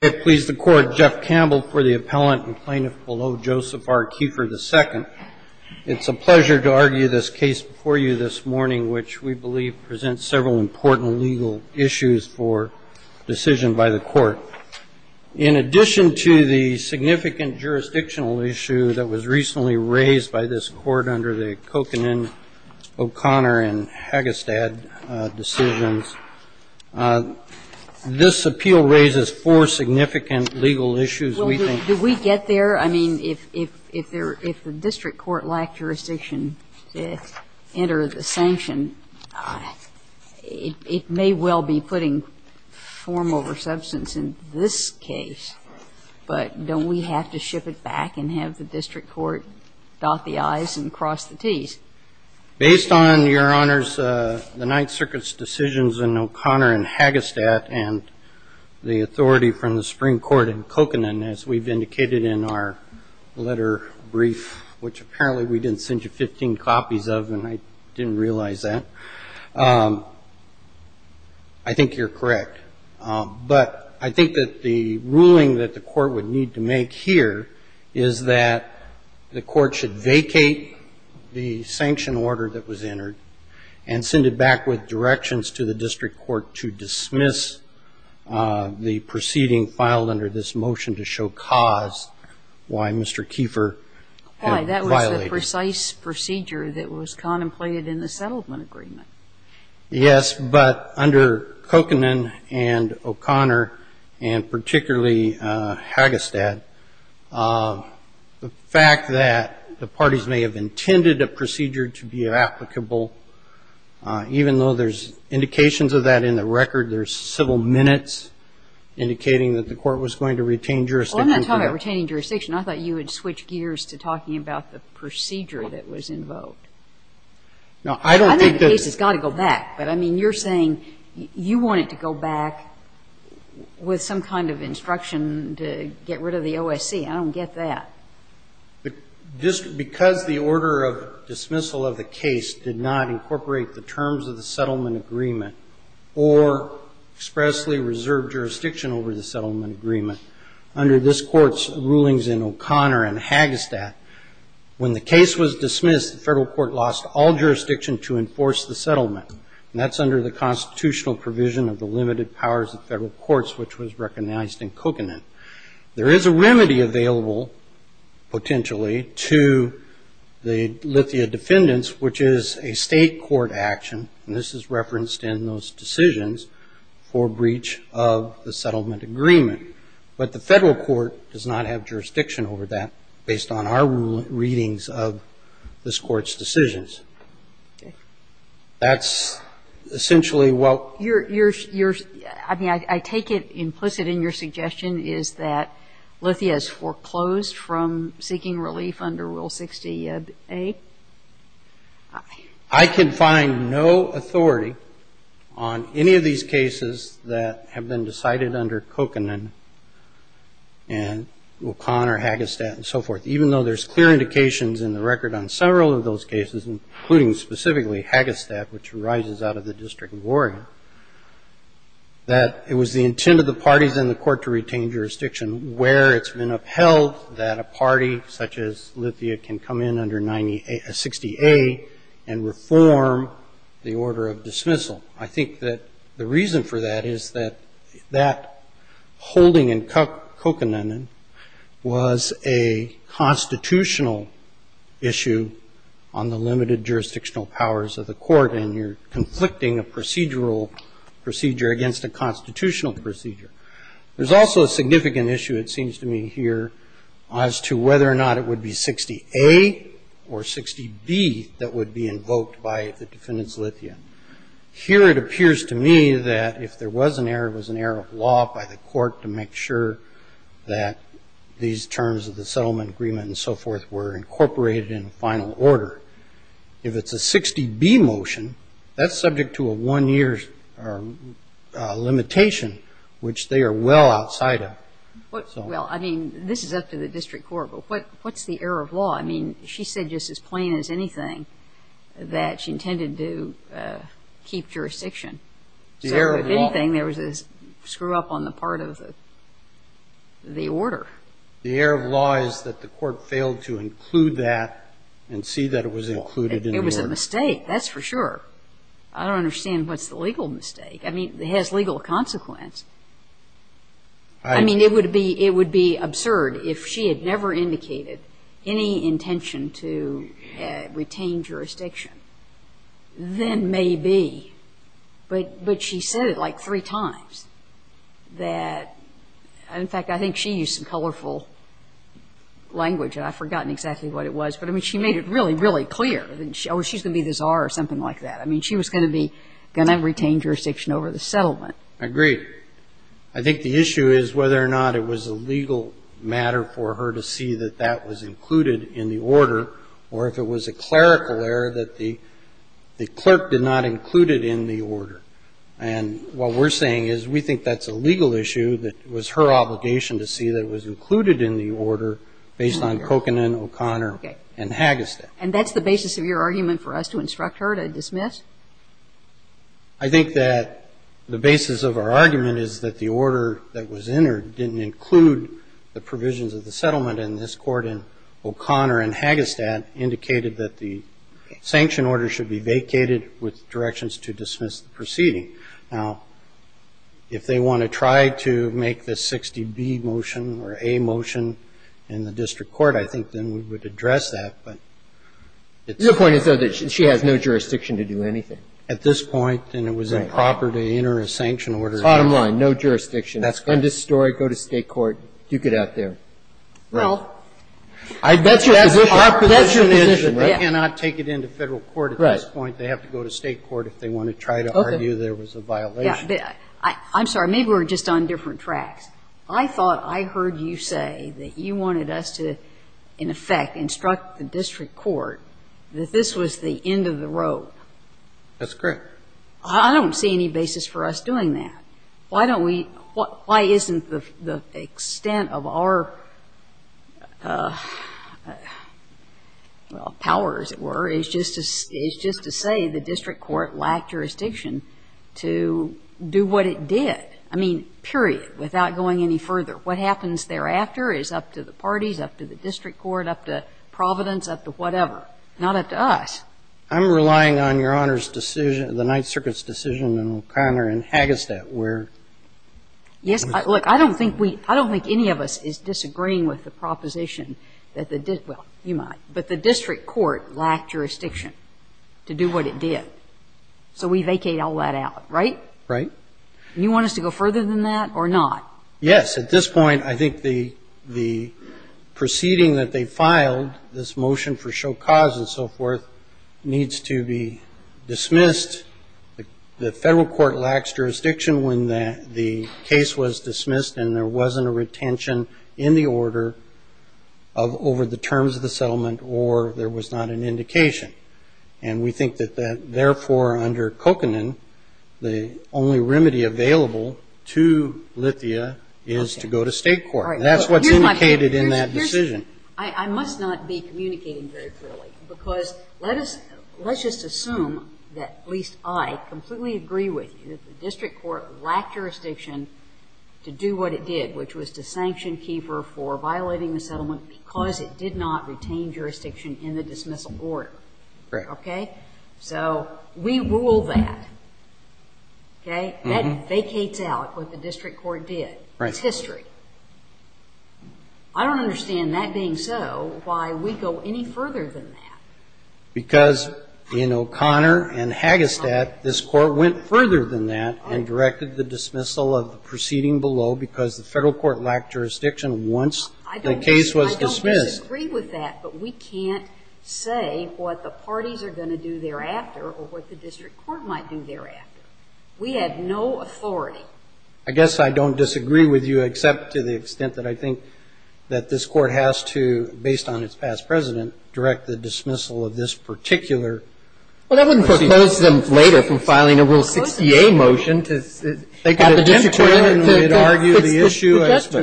I please the Court, Jeff Campbell, for the appellant and plaintiff below, Joseph R. Kiefer II. It's a pleasure to argue this case before you this morning, which we believe presents several important legal issues for decision by the Court. In addition to the significant jurisdictional issue that was recently raised by this Court under the Kokanen, O'Connor, and Hagestad decisions, this appeal raises four significant legal issues we think. Well, do we get there? I mean, if the district court lacked jurisdiction to enter the sanction, it may well be putting form over substance in this case. But don't we have to ship it back and have the district court dot the I's and cross the T's? Based on, Your Honors, the Ninth Circuit's decisions in O'Connor and Hagestad and the authority from the Supreme Court in Kokanen, as we've indicated in our letter brief, which apparently we didn't send you 15 copies of and I didn't realize that, I think you're correct. But I think that the ruling that the Court would need to make here is that the Court should vacate the sanction order that was entered and send it back with directions to the district court to dismiss the proceeding filed under this motion to show cause why Mr. Kieffer violated it. Why, that was the precise procedure that was contemplated in the settlement agreement. Yes, but under Kokanen and O'Connor, and particularly Hagestad, the fact that the parties may have intended a procedure to be applicable, even though there's indications of that in the record, there's several minutes indicating that the Court was going to retain jurisdiction. Well, I'm not talking about retaining jurisdiction. I thought you would switch gears to talking about the procedure that was invoked. I think the case has got to go back, but, I mean, you're saying you want it to go back with some kind of instruction to get rid of the OSC. I don't get that. Because the order of dismissal of the case did not incorporate the terms of the settlement agreement or expressly reserve jurisdiction over the settlement agreement, under this Court's rulings in O'Connor and Hagestad, when the case was dismissed, the federal court lost all jurisdiction to enforce the settlement, and that's under the constitutional provision of the limited powers of federal courts, which was recognized in Kokanen. There is a remedy available, potentially, to the Lithia defendants, which is a state court action, and this is referenced in those decisions, for breach of the settlement agreement. But the federal court does not have jurisdiction over that, based on our readings of this Court's decisions. That's essentially what you're ‑‑ I mean, I take it implicit in your suggestion is that Lithia is foreclosed from seeking relief under Rule 68. I can find no authority on any of these cases that have been decided under Kokanen and O'Connor, Hagestad, and so forth, even though there's clear indications in the record on several of those cases, including specifically Hagestad, which arises out of the District of Oregon, that it was the intent of the parties in the Court to retain jurisdiction where it's been upheld that a party such as Lithia can come in under 90A ‑‑ 60A and reform the order of dismissal. I think that the reason for that is that that holding in Kokanen was a constitutional issue on the limited jurisdictional powers of the Court, and you're conflicting a procedural procedure against a constitutional procedure. There's also a significant issue, it seems to me here, as to whether or not it would be 60A or 60B that would be invoked by the defendant's Lithia. Here it appears to me that if there was an error, it was an error of law by the Court to make sure that these terms of the settlement agreement and so forth were incorporated in final order. If it's a 60B motion, that's subject to a one-year limitation, which they are well outside of. Well, I mean, this is up to the District Court, but what's the error of law? I mean, she said just as plain as anything that she intended to keep jurisdiction. The error of law. So if anything, there was a screw-up on the part of the order. The error of law is that the Court failed to include that and see that it was included in the order. It was a mistake, that's for sure. I don't understand what's the legal mistake. I mean, it has legal consequence. I mean, it would be absurd if she had never indicated any intention to retain jurisdiction. Then maybe. But she said it like three times that, in fact, I think she used some colorful language, and I've forgotten exactly what it was. But, I mean, she made it really, really clear. Oh, she's going to be this R or something like that. I mean, she was going to be going to retain jurisdiction over the settlement. Agreed. I think the issue is whether or not it was a legal matter for her to see that that was included in the order, or if it was a clerical error that the clerk did not include it in the order. And what we're saying is we think that's a legal issue that was her obligation to see that it was included in the order based on Kokanen, O'Connor, and Hagestad. And that's the basis of your argument for us to instruct her to dismiss? I think that the basis of our argument is that the order that was entered didn't include the provisions of the settlement. And this Court in O'Connor and Hagestad indicated that the sanction order should be vacated with directions to dismiss the proceeding. Now, if they want to try to make the 60B motion or A motion in the district court, I think then we would address that. The point is, though, that she has no jurisdiction to do anything. At this point, then it was improper to enter a sanction order. Bottom line, no jurisdiction. That's correct. Undistorted, go to State court, duke it out there. Well, that's your position. Our position is that they cannot take it into Federal court at this point. They have to go to State court if they want to try to argue there was a violation. I'm sorry. Maybe we're just on different tracks. I thought I heard you say that you wanted us to, in effect, instruct the district court that this was the end of the rope. That's correct. I don't see any basis for us doing that. Why don't we why isn't the extent of our, well, power, as it were, is just to say the district court lacked jurisdiction to do what it did. I mean, period, without going any further. What happens thereafter is up to the parties, up to the district court, up to Providence, up to whatever. Not up to us. I'm relying on Your Honor's decision, the Ninth Circuit's decision in O'Connor and Hagestad where. Yes. Look, I don't think we, I don't think any of us is disagreeing with the proposition that the, well, you might. But the district court lacked jurisdiction to do what it did. So we vacate all that out, right? Right. And you want us to go further than that or not? Yes. At this point, I think the proceeding that they filed, this motion for show cause and so forth, needs to be dismissed. The Federal court lacks jurisdiction when the case was dismissed and there wasn't a retention in the order of over the terms of the settlement or there was not an indication. And we think that therefore under Kokanen, the only remedy available to Lithia is to go to state court. All right. That's what's indicated in that decision. I must not be communicating very clearly because let us, let's just assume that at least I completely agree with you that the district court lacked jurisdiction to do what it did, which was to sanction Keefer for violating the settlement because it did not retain jurisdiction in the dismissal order. Right. Okay? So we rule that. Okay? That vacates out what the district court did. Right. It's history. I don't understand that being so why we go any further than that. Because in O'Connor and Hagestad, this court went further than that and directed the dismissal of the proceeding below because the Federal court lacked jurisdiction once the case was dismissed. I don't disagree with that, but we can't say what the parties are going to do thereafter or what the district court might do thereafter. We have no authority. I guess I don't disagree with you except to the extent that I think that this court has to, based on its past president, direct the dismissal of this particular proceeding. Well, that would propose them later from filing a Rule 68 motion to have the district court decide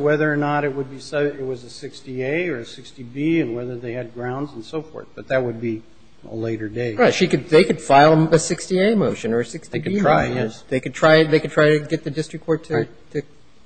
whether it would be a 60A or a 60B, and whether they had grounds and so forth. But that would be a later date. Right. They could file a 60A motion or a 60B motion. They could try, yes. They could try to get the district court to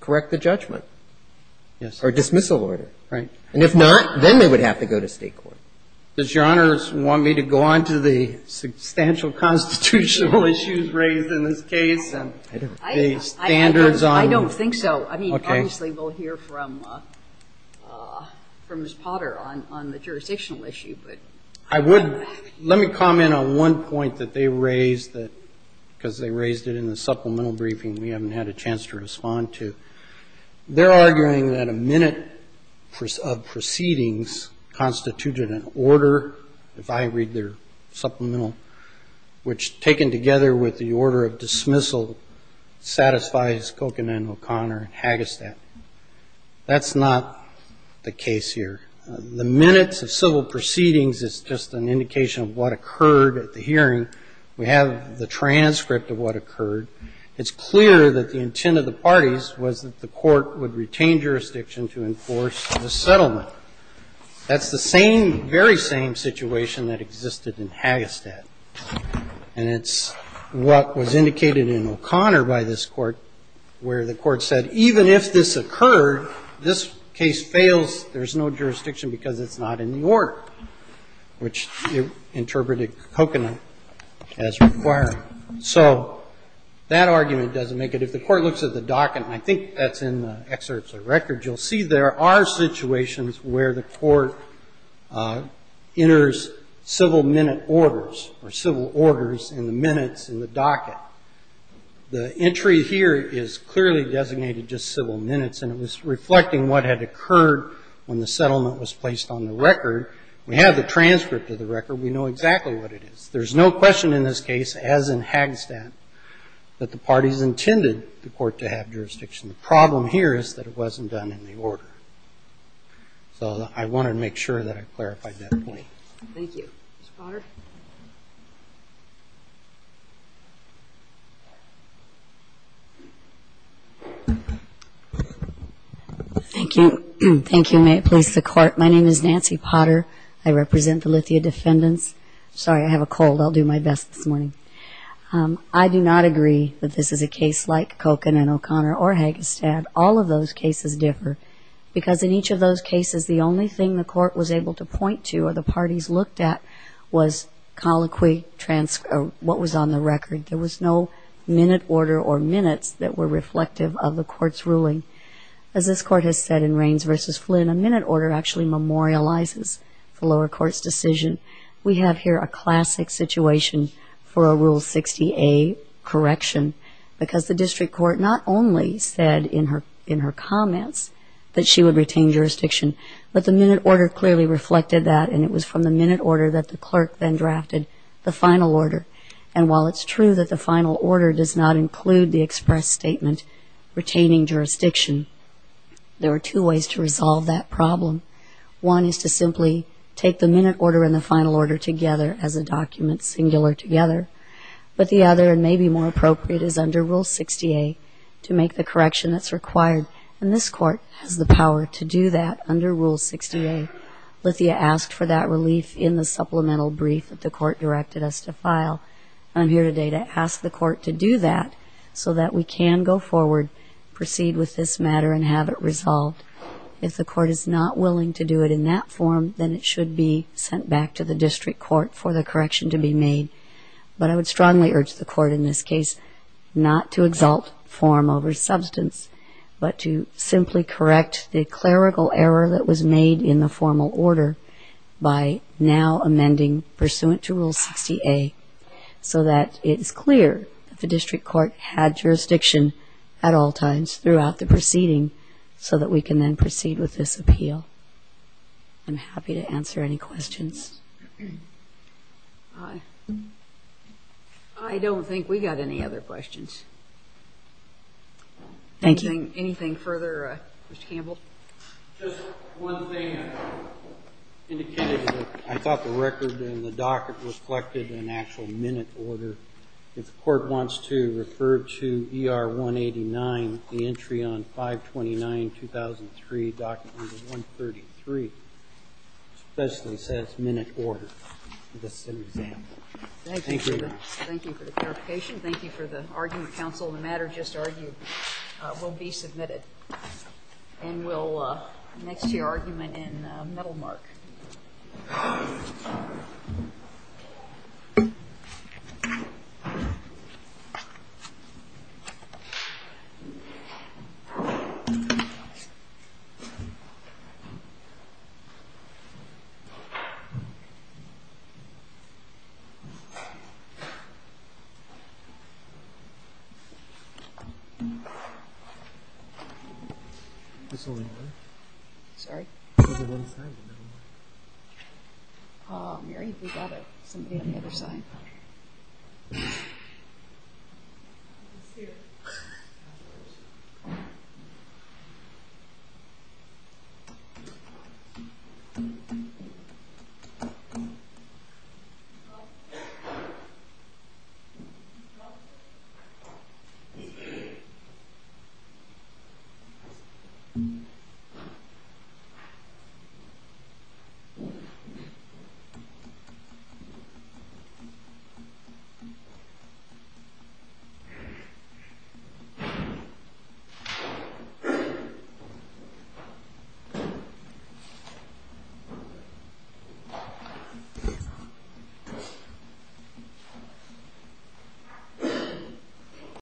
correct the judgment. Yes. Or dismissal order, right? And if not, then they would have to go to State court. Does Your Honor want me to go on to the substantial constitutional issues raised in this case? I don't think so. I mean, obviously, we'll hear from Ms. Potter on the jurisdictional issue. I would. Let me comment on one point that they raised, because they raised it in the supplemental briefing and we haven't had a chance to respond to. They're arguing that a minute of proceedings constituted an order, if I read their That's not the case here. The minutes of civil proceedings is just an indication of what occurred at the hearing. We have the transcript of what occurred. It's clear that the intent of the parties was that the court would retain jurisdiction to enforce the settlement. That's the same, very same situation that existed in Hagestad. And it's what was indicated in O'Connor by this court, where the court said, even if this occurred, this case fails, there's no jurisdiction because it's not in the order, which interpreted Kokanen as requiring. So that argument doesn't make it. If the court looks at the docket, and I think that's in the excerpts of the record, you'll see there are situations where the court enters civil minute orders or civil orders in the minutes in the docket. The entry here is clearly designated just civil minutes, and it was reflecting what had occurred when the settlement was placed on the record. We have the transcript of the record. We know exactly what it is. There's no question in this case, as in Hagestad, that the parties intended the court to have jurisdiction. The problem here is that it wasn't done in the order. So I wanted to make sure that I clarified that point. Thank you. Ms. Potter. Thank you. Thank you. May it please the court. My name is Nancy Potter. I represent the Lithia defendants. Sorry, I have a cold. I'll do my best this morning. I do not agree that this is a case like Kolkin and O'Connor or Hagestad. All of those cases differ because in each of those cases, the only thing the court was able to point to or the parties looked at was colloquy, what was on the record. There was no minute order or minutes that were reflective of the court's ruling. As this court has said in Raines v. Flynn, a minute order actually memorializes the lower court's decision. We have here a classic situation for a Rule 60A correction because the district court not only said in her comments that she would retain jurisdiction, but the minute order clearly reflected that, and it was from the minute order that the clerk then drafted the final order. And while it's true that the final order does not include the express statement retaining jurisdiction, there are two ways to resolve that problem. One is to simply take the minute order and the final order together as a document, singular together. But the other, and maybe more appropriate, is under Rule 60A to make the correction that's required. And this court has the power to do that under Rule 60A. Lithia asked for that relief in the supplemental brief that the court directed us to file. I'm here today to ask the court to do that so that we can go forward, proceed with this matter, and have it resolved. If the court is not willing to do it in that form, then it should be sent back to the district court for the correction to be made. But I would strongly urge the court in this case not to exalt form over substance, but to simply correct the clerical error that was made in the formal order by now amending pursuant to Rule 60A so that it is clear that the district court had jurisdiction at all times throughout the proceeding so that we can then proceed with this appeal. I'm happy to answer any questions. I don't think we got any other questions. Thank you. Anything further, Mr. Campbell? Just one thing. I thought the record in the docket reflected an actual minute order. If the court wants to refer to ER 189, the entry on 529-2003, document 133, especially says minute order. That's an example. Thank you. Thank you for the clarification. Thank you for the argument, counsel. The matter just argued will be submitted. And we'll next hear argument in Middlemark. There's only one. Sorry? There's only one side of Middlemark. Mary, we've got somebody on the other side. It's here. It's here. Thank you.